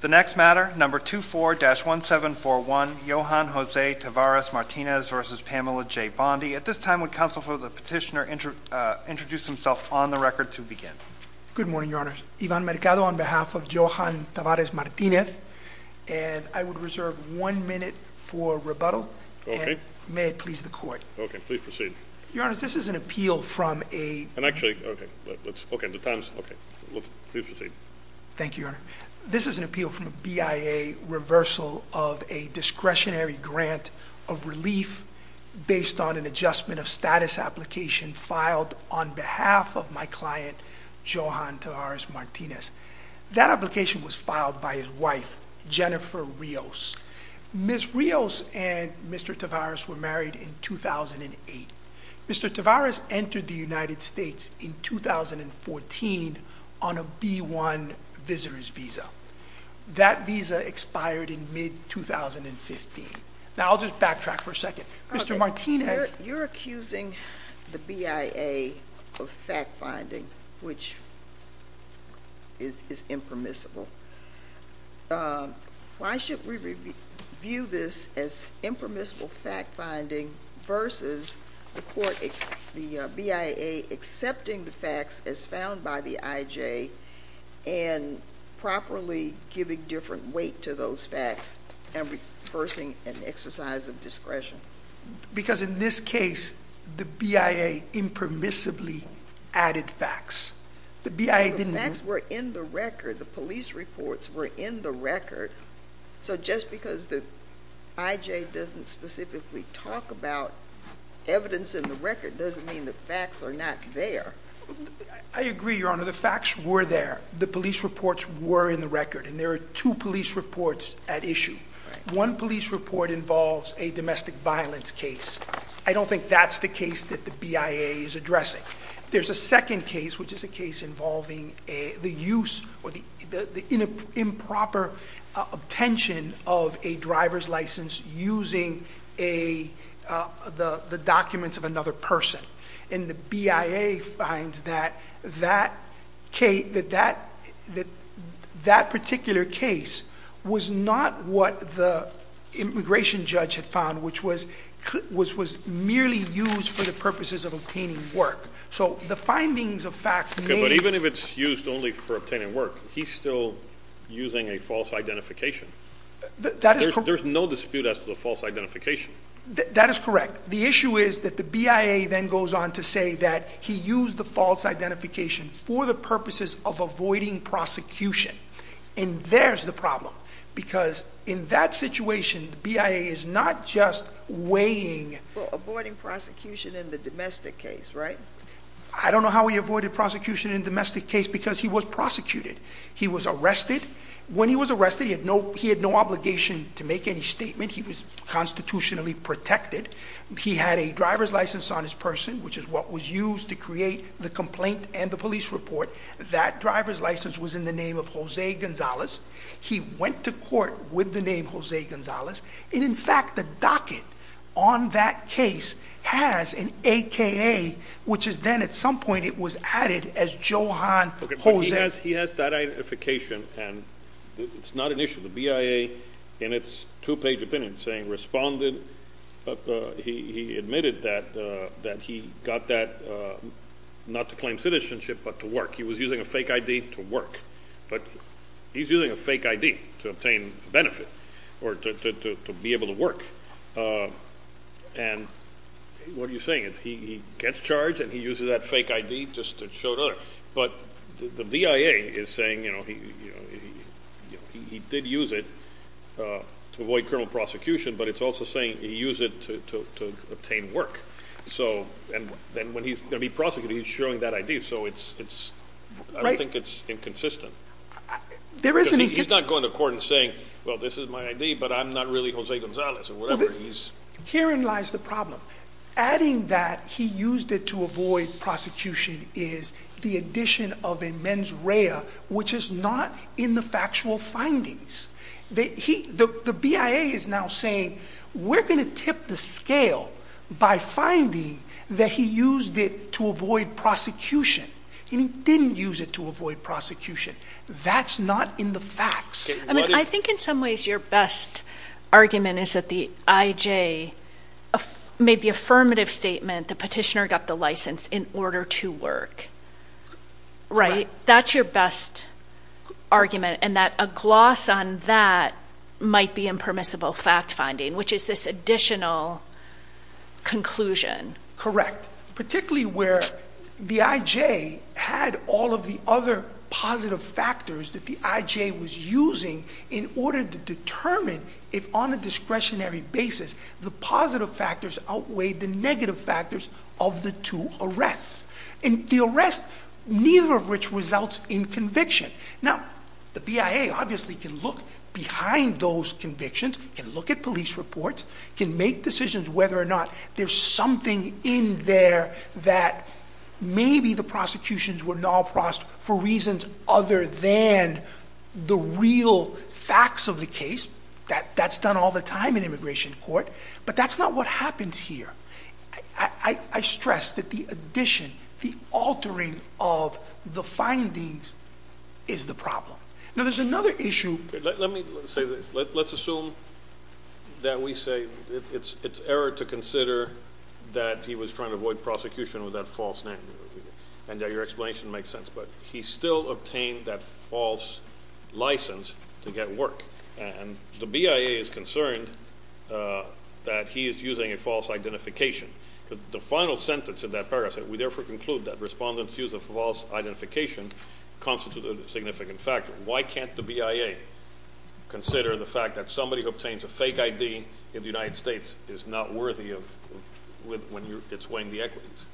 The next matter, number 24-1741, Yohan Jose Tavares Martinez v. Pamela J. Bondi. At this time, would counsel for the petitioner introduce himself on the record to begin? Good morning, Your Honors. Ivan Mercado on behalf of Yohan Tavares Martinez, and I would reserve one minute for rebuttal. Okay. May it please the court. Okay, please proceed. Your Honors, this is an appeal from a... And actually, okay, let's, okay, the time's, let's, please proceed. Thank you, Your Honor. This is an appeal from a BIA reversal of a discretionary grant of relief based on an adjustment of status application filed on behalf of my client, Yohan Tavares Martinez. That application was filed by his wife, Jennifer Rios. Ms. Rios and Mr. Tavares were married in 2008. Mr. Tavares entered the United States in 2014 on a B-1 visitor's visa. That visa expired in mid-2015. Now, I'll just backtrack for a second. Mr. Martinez... You're accusing the BIA of fact-finding, which is impermissible. Why should we review this as impermissible fact-finding versus the BIA accepting the facts as found by the IJ and properly giving different weight to those facts and reversing an exercise of discretion? Because in this case, the BIA impermissibly added facts. The BIA didn't... The facts were in the record. The police reports were in the record. So just because the IJ doesn't specifically talk about evidence in the record doesn't mean the facts are not there. I agree, Your Honor. The facts were there. The police reports were in the record. And there are two police reports at issue. One police report involves a domestic violence case. I don't think that's the case that the BIA is addressing. There's a second case, which is a case involving the use or the improper attention of a driver's license using the documents of another person. And the BIA finds that that particular case was not what the immigration judge had found, which was merely used for the purposes of obtaining work. So the findings of facts may... Okay, but even if it's used only for obtaining work, he's still using a false identification. There's no dispute as to the false identification. That is correct. The issue is that the BIA then goes on to say that he used the false identification for the purposes of avoiding prosecution. And there's the problem. Because in that situation, the BIA is not just weighing... Well, avoiding prosecution in the domestic case, right? I don't know how he avoided prosecution in domestic case because he was prosecuted. He was arrested. When he was arrested, he had no obligation to make any statement. He was constitutionally protected. He had a driver's license on his person, which is what was used to create the complaint and the police report. That driver's license was in the name of Jose Gonzalez. He went to court with the name Jose Gonzalez. And in fact, the docket on that case has an AKA, which is then at some point it was added as Johan Jose. Okay, but he has that identification and it's not an issue. The BIA in its two-page opinion saying responded... He admitted that he got that not to claim citizenship, but to work. He was using a fake ID to work, but he's using a fake ID to obtain benefit or to be able to work. And what are you saying? He gets charged and he uses that fake ID just to show it off. But the BIA is saying he did use it to avoid criminal prosecution, but it's also saying he used it to obtain work. And when he's going to be charged, he's using that fake ID. So it's, I don't think it's inconsistent. He's not going to court and saying, well, this is my ID, but I'm not really Jose Gonzalez or whatever. Herein lies the problem. Adding that he used it to avoid prosecution is the addition of a mens rea, which is not in the factual findings. The BIA is now saying we're going to tip the scale by finding that he used it to avoid prosecution. And he didn't use it to avoid prosecution. That's not in the facts. I mean, I think in some ways your best argument is that the IJ made the affirmative statement, the petitioner got the license in order to work. Right? That's your best argument. And that a gloss on that might be impermissible fact finding, which is this additional conclusion. Correct. Particularly where the IJ had all of the other positive factors that the IJ was using in order to determine if on a discretionary basis, the positive factors outweighed the negative factors of the two arrests and the arrest, neither of which results in conviction. Now the BIA obviously can look behind those convictions and look at police reports, can make decisions whether or not there's something in there that maybe the prosecutions were not for reasons other than the real facts of the case. That's done all the time in immigration court, but that's not what happens here. I stress that the addition, the altering of the findings is the problem. Now there's another issue. Let me say this. Let's assume that we say it's error to consider that he was trying to avoid prosecution with that false name. And that your explanation makes sense, but he still obtained that false license to get work. And the BIA is concerned that he is using a false identification. The final sentence of that paragraph said, we therefore conclude that respondent's use of false identification constitutes a significant factor. Why can't the BIA consider the fact that somebody who obtains a fake ID in the United States is not worthy of when it's weighing the equities.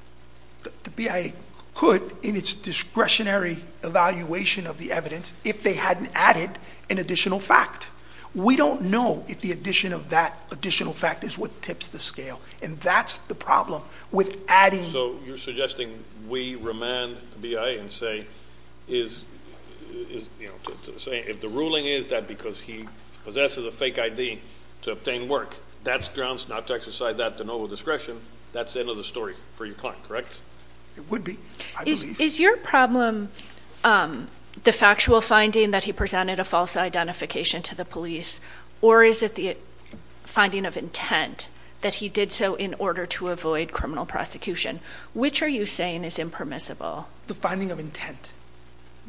The BIA could in its discretionary evaluation of the evidence, if they hadn't added an additional fact. We don't know if the addition of that additional fact is what tips the scale. And that's the problem with adding... So you're suggesting we remand the BIA and say, if the ruling is that because he possesses a fake ID to obtain work, that's grounds not to exercise that to no discretion, that's the end of the story for your client, correct? It would be, I believe. Is your problem the factual finding that he presented a false identification to the police, or is it the finding of intent that he did so in order to avoid criminal prosecution? Which are you saying is impermissible? The finding of intent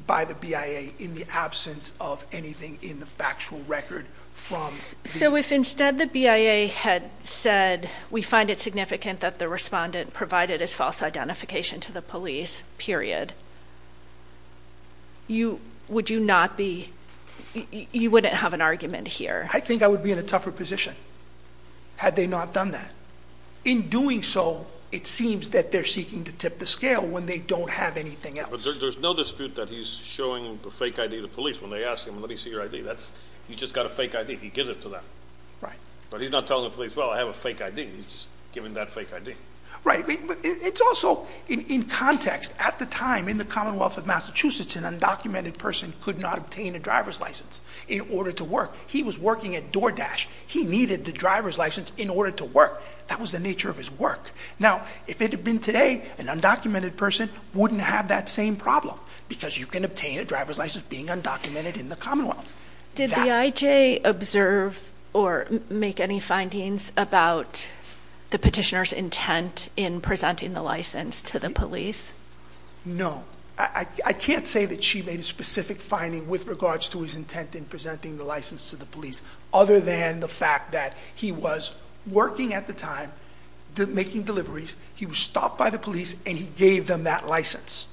by the BIA in the absence of anything in the factual record from... So if instead the BIA had said, we find it significant that the respondent provided his false identification to the police, period, you wouldn't have an argument here? I think I would be in a tougher position had they not done that. In doing so, it seems that they're seeking to tip the scale when they don't have anything else. But there's no dispute that he's showing the fake ID to the police when they ask him, let me see your ID. He's just got a fake ID. He gives it to them. Right. But he's not telling the police, well, I have a fake ID. He's just giving that fake ID. Right. But it's also, in context, at the time in the Commonwealth of Massachusetts, an undocumented person could not obtain a driver's license in order to work. He was working at DoorDash. He needed the driver's license in order to work. That was the nature of his work. Now, if it had been today, an undocumented person wouldn't have that same problem because you can obtain a driver's license being undocumented in the Commonwealth. Did the IJ observe or make any findings about the petitioner's intent in presenting the license to the police? No. I can't say that she made a specific finding with regards to his intent in presenting the license to the police other than the fact that he was working at the time, making deliveries. He was stopped by the police, and he gave them that license.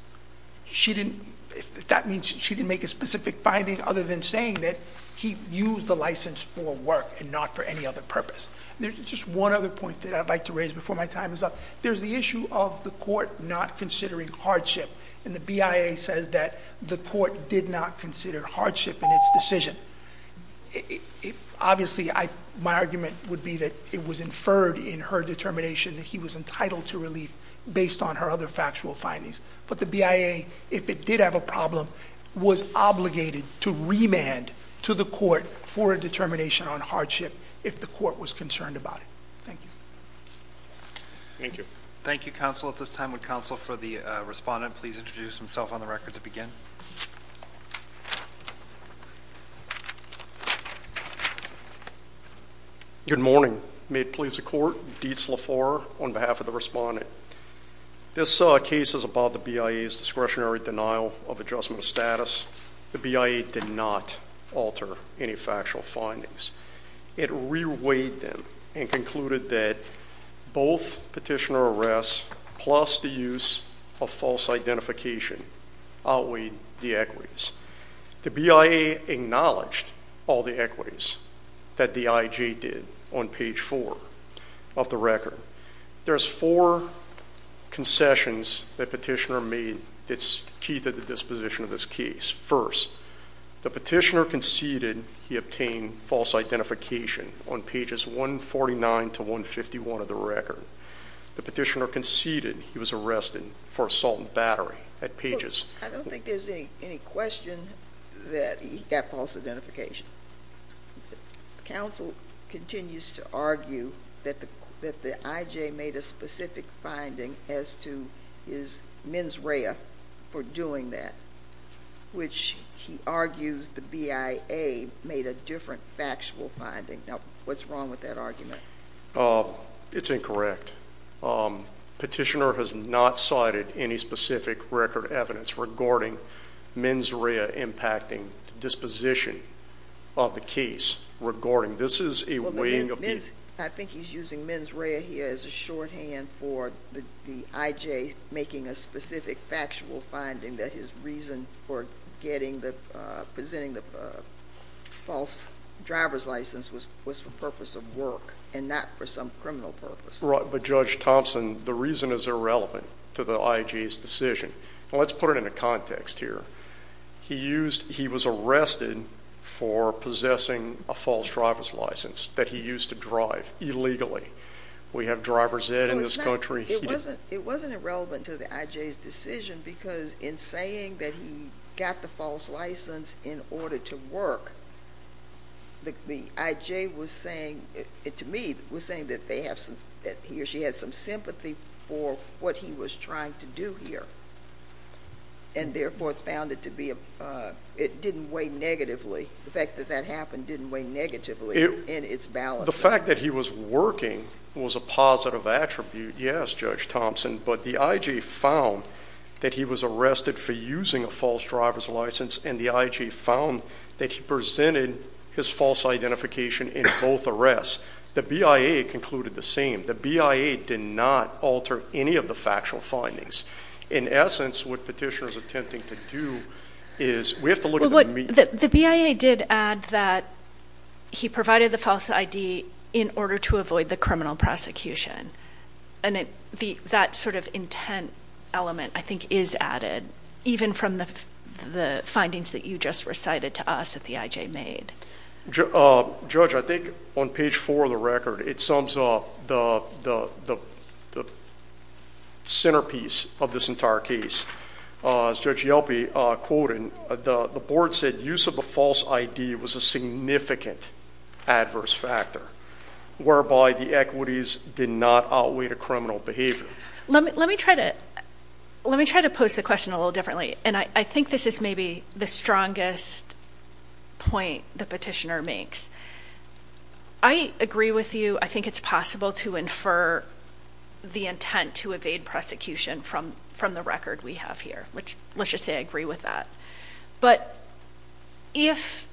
She didn't, that means she didn't make a specific finding other than saying that he used the license for work and not for any other purpose. There's just one other point that I'd like to raise before my time is up. There's the issue of the court not considering hardship, and the BIA says that the court did not consider hardship in its decision. Obviously, my argument would be that it was inferred in her determination that he was entitled to relief based on her other factual findings. But the BIA, if it did have a problem, was obligated to remand to the court for a determination on hardship if the court was concerned about it. Thank you. Thank you. Thank you, counsel. At this time, would counsel for the respondent please introduce himself on the record to begin? Good morning. May it please the court. Dietz LaFleur on behalf of the respondent. This case is about the BIA's discretionary denial of adjustment of status. The BIA did not alter any factual findings. It reweighed them and concluded that both petitioner arrests plus the use of false identification outweighed the equities. The BIA acknowledged all the equities that the IJ did on page four of the record. There's four concessions that petitioner made. It's key to the disposition of this case. First, the petitioner conceded he obtained false identification on pages 149 to 151 of the record. The petitioner conceded he was arrested for assault and battery at pages- I don't think there's any question that he got false identification. Counsel continues to argue that the IJ made a specific finding as to his mens rea for doing that, which he argues the BIA made a different factual finding. Now, what's wrong with that argument? It's incorrect. Petitioner has not cited any specific record evidence regarding mens rea impacting disposition of the case. Regarding this is a weighing of the- I think he's using mens rea here as a shorthand for the IJ making a specific factual finding that his reason for presenting the false driver's license was for purpose of work and not for some criminal purpose. Right, but Judge Thompson, the reason is irrelevant to the IJ's decision. Let's put it in a context here. He was arrested for possessing a false driver's license that he used to drive illegally. We have driver's ed in this country. It wasn't irrelevant to the IJ's decision because in saying that he got the false license in order to work, the IJ was saying, to me, was saying that he or she had some sympathy for what he was trying to do here. And therefore, found it to be a, it didn't weigh negatively. The fact that that happened didn't weigh negatively in its balance. The fact that he was working was a positive attribute, yes, Judge Thompson. But the IJ found that he was arrested for using a false driver's license and the IJ found that he presented his false identification in both arrests. The BIA concluded the same. The BIA did not alter any of the factual findings. In essence, what petitioners are attempting to do is, we have to look at the- The BIA did add that he provided the false ID in order to avoid the criminal prosecution. And that sort of intent element, I think, is added, even from the findings that you just recited to us that the IJ made. Judge, I think on page four of the record, it sums up the centerpiece of this entire case. As Judge Yelpey quoted, the board said use of a false ID was a significant adverse factor, whereby the equities did not outweigh the criminal behavior. Let me try to post the question a little differently. And I think this is maybe the strongest point the petitioner makes. I agree with you, I think it's possible to infer the intent to evade prosecution from the record we have here, which let's just say I agree with that. But if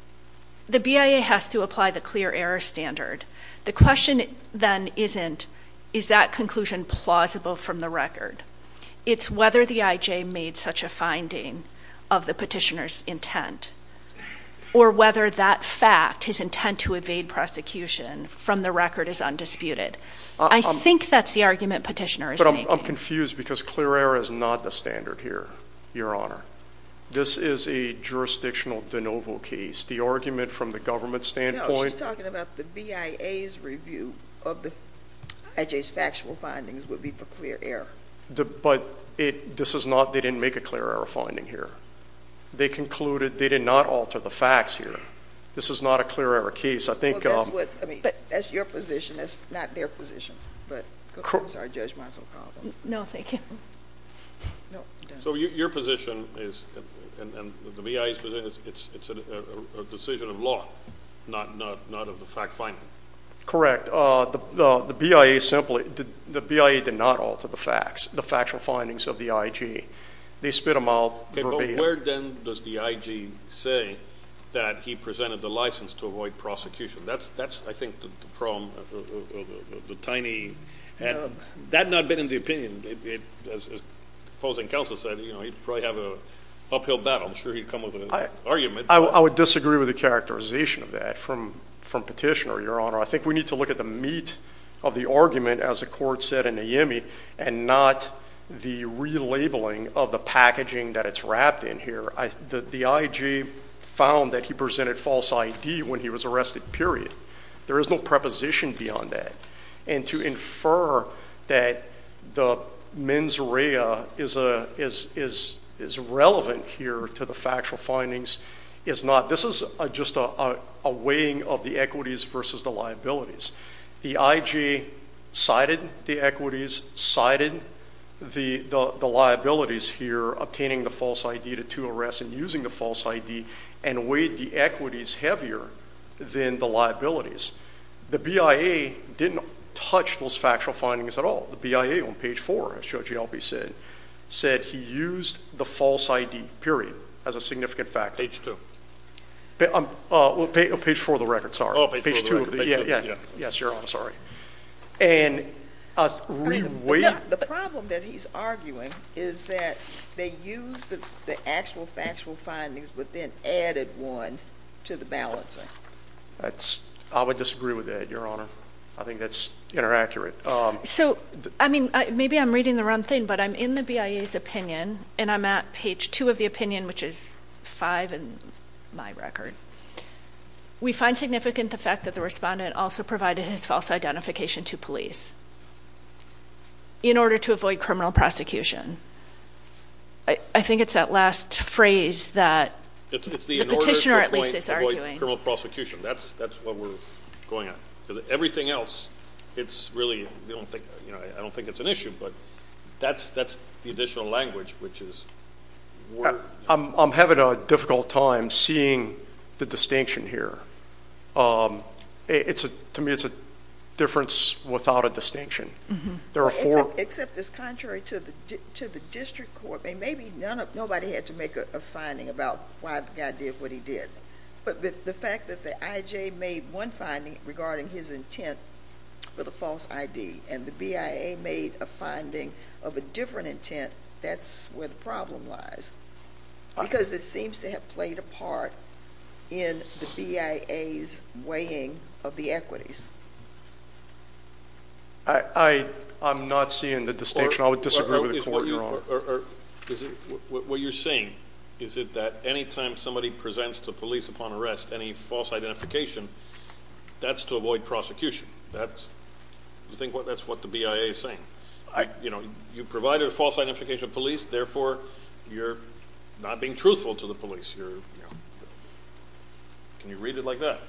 the BIA has to apply the clear error standard, the question then isn't, is that conclusion plausible from the record? It's whether the IJ made such a finding of the petitioner's intent, or whether that fact, his intent to evade prosecution from the record is undisputed. I think that's the argument petitioner is making. But I'm confused because clear error is not the standard here, Your Honor. This is a jurisdictional de novo case. The argument from the government standpoint- No, she's talking about the BIA's review of the IJ's factual findings would be for clear error. But this is not, they didn't make a clear error finding here. They concluded they did not alter the facts here. This is not a clear error case. I think- Well, that's what, I mean, that's your position, that's not their position. But it's our judgmental problem. No, thank you. So your position is, and the BIA's position is, it's a decision of law, not of the fact finding. Correct. The BIA simply, the BIA did not alter the facts, the factual findings of the IJ. They spit them out verbatim. Okay, but where then does the IJ say that he presented the license to avoid prosecution? That's, I think, the problem, the tiny, that not been in the opinion. As opposing counsel said, he'd probably have an uphill battle. I'm sure he'd come with an argument. I would disagree with the characterization of that from petitioner, I think we need to look at the meat of the argument, as the court said in the Yemi, and not the relabeling of the packaging that it's wrapped in here. The IJ found that he presented false ID when he was arrested, period. There is no preposition beyond that. And to infer that the mens rea is relevant here to the factual findings is not. This is just a weighing of the equities versus the liabilities. The IJ cited the equities, cited the liabilities here, obtaining the false ID to two arrests and using the false ID, and weighed the equities heavier than the liabilities. The BIA didn't touch those factual findings at all. The BIA on page four, as Judge Albee said, said he used the false ID, period, as a significant factor. Page two. Well, page four of the record, sorry. Oh, page four of the record. Yeah, yeah. Yes, Your Honor, sorry. And reweight. The problem that he's arguing is that they used the actual factual findings, but then added one to the balancing. I would disagree with that, Your Honor. I think that's inaccurate. So, I mean, maybe I'm reading the wrong thing, but I'm in the BIA's opinion, and I'm at page two of the opinion, which is five in my record. We find significant the fact that the respondent also provided his false identification to police in order to avoid criminal prosecution. I think it's that last phrase that the petitioner, at least, is arguing. In order to avoid criminal prosecution. That's what we're going on. Everything else, it's really, I don't think it's an issue, but that's the additional language, which is. I'm having a difficult time seeing the distinction here. To me, it's a difference without a distinction. There are four. Except it's contrary to the district court. Maybe nobody had to make a finding about why the guy did what he did. But the fact that the IJ made one finding regarding his intent for the false ID, and the BIA made a finding of a different intent, that's where the problem lies. Because it seems to have played a part in the BIA's weighing of the equities. I'm not seeing the distinction. I would disagree with the court, Your Honor. What you're saying, is it that any time somebody presents to police upon arrest any false identification, that's to avoid prosecution. That's, you think that's what the BIA is saying? You provided a false identification to police, therefore, you're not being truthful to the police. You're, can you read it like that?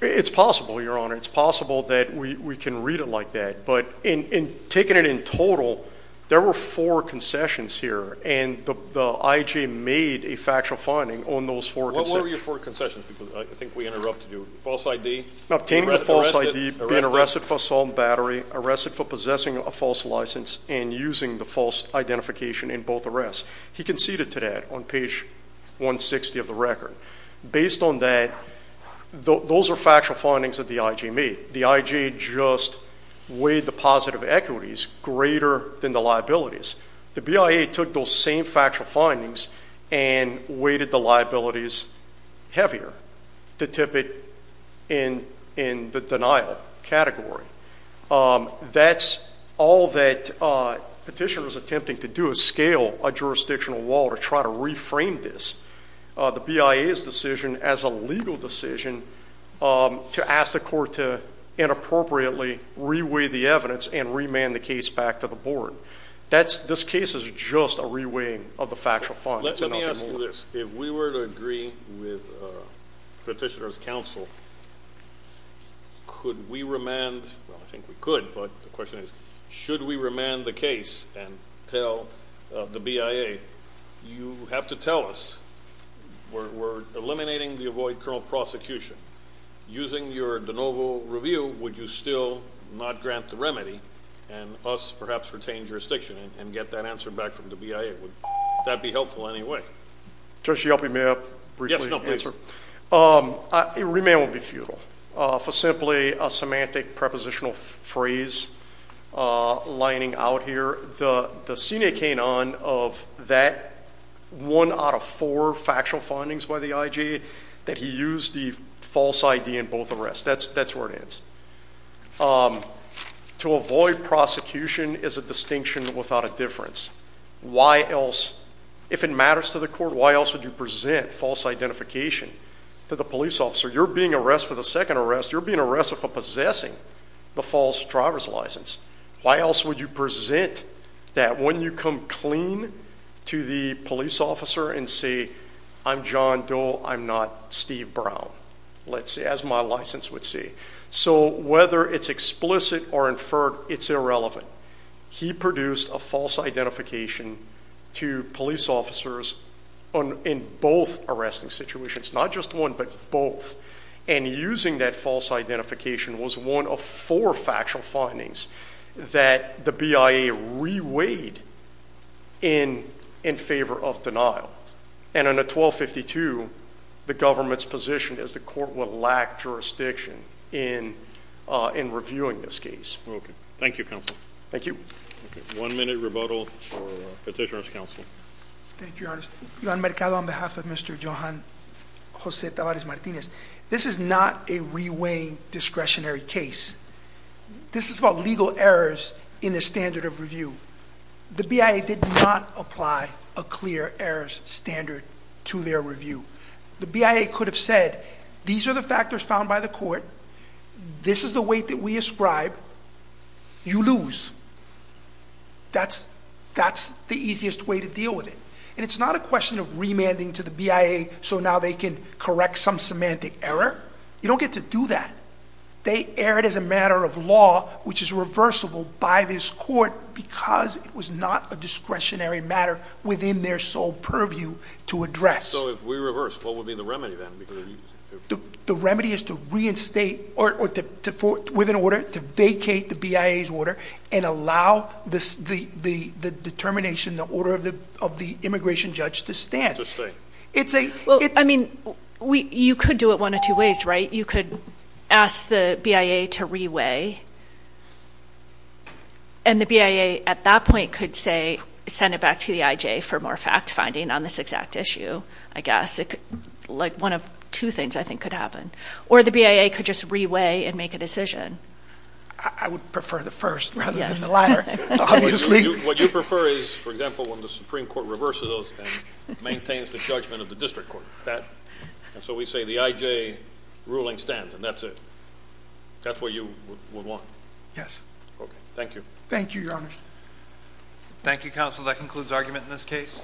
It's possible, Your Honor. It's possible that we can read it like that. But in taking it in total, there were four concessions here. And the IJ made a factual finding on those four concessions. What were your four concessions? Because I think we interrupted you. False ID? Obtaining a false ID, being arrested for assault and battery, arrested for possessing a false license, and using the false identification in both arrests. He conceded to that on page 160 of the record. Based on that, those are factual findings that the IJ made. The IJ just weighed the positive equities greater than the liabilities. The BIA took those same factual findings and weighted the liabilities heavier to tip it in the denial category. That's all that petitioner's attempting to do, is scale a jurisdictional wall to try to reframe this. The BIA's decision as a legal decision to ask the court to inappropriately re-weigh the evidence and remand the case back to the board. This case is just a re-weighing of the factual findings. Let me ask you this. If we were to agree with petitioner's counsel, could we remand, well I think we could, but the question is, should we remand the case and tell the BIA, you have to tell us, we're eliminating the avoid criminal prosecution. Using your de novo review, would you still not grant the remedy and us perhaps retain jurisdiction and get that answer back from the BIA? That'd be helpful anyway. Just to help you, may I briefly answer? A remand would be futile. For simply a semantic prepositional phrase lining out here. The scenic came on of that one out of four factual findings by the IJ, that he used the false ID in both arrests, that's where it ends. To avoid prosecution is a distinction without a difference. Why else, if it matters to the court, why else would you present false identification to the police officer? You're being arrested for the second arrest, you're being arrested for possessing the false driver's license. Why else would you present that when you come clean to the police officer and say, I'm John Doe, I'm not Steve Brown, as my license would say. So whether it's explicit or inferred, it's irrelevant. He produced a false identification to police officers in both arresting situations. Not just one, but both. And using that false identification was one of four factual findings that the BIA reweighed in favor of denial. And in a 1252, the government's position is the court will lack jurisdiction in reviewing this case. Thank you, Counsel. Thank you. One minute rebuttal for Petitioner's Counsel. Thank you, Your Honor. Yvonne Mercado on behalf of Mr. Johan Jose Tabarez Martinez. This is not a reweighing discretionary case. This is about legal errors in the standard of review. The BIA did not apply a clear errors standard to their review. The BIA could have said, these are the factors found by the court. This is the weight that we ascribe, you lose. That's the easiest way to deal with it. And it's not a question of remanding to the BIA, so now they can correct some semantic error. You don't get to do that. They erred as a matter of law, which is reversible by this court, because it was not a discretionary matter within their sole purview to address. So if we reverse, what would be the remedy then? The remedy is to reinstate, or with an order, to vacate the BIA's order and allow the determination, the order of the immigration judge to stand. It's a- Well, I mean, you could do it one of two ways, right? You could ask the BIA to reweigh, and the BIA at that point could say, send it back to the IJ for more fact finding on this exact issue, I guess. Like one of two things, I think, could happen. Or the BIA could just reweigh and make a decision. I would prefer the first rather than the latter, obviously. What you prefer is, for example, when the Supreme Court reverses those and maintains the judgment of the district court, that. And so we say the IJ ruling stands, and that's it. That's what you would want? Yes. Okay, thank you. Thank you, Your Honor. Thank you, counsel. That concludes argument in this case.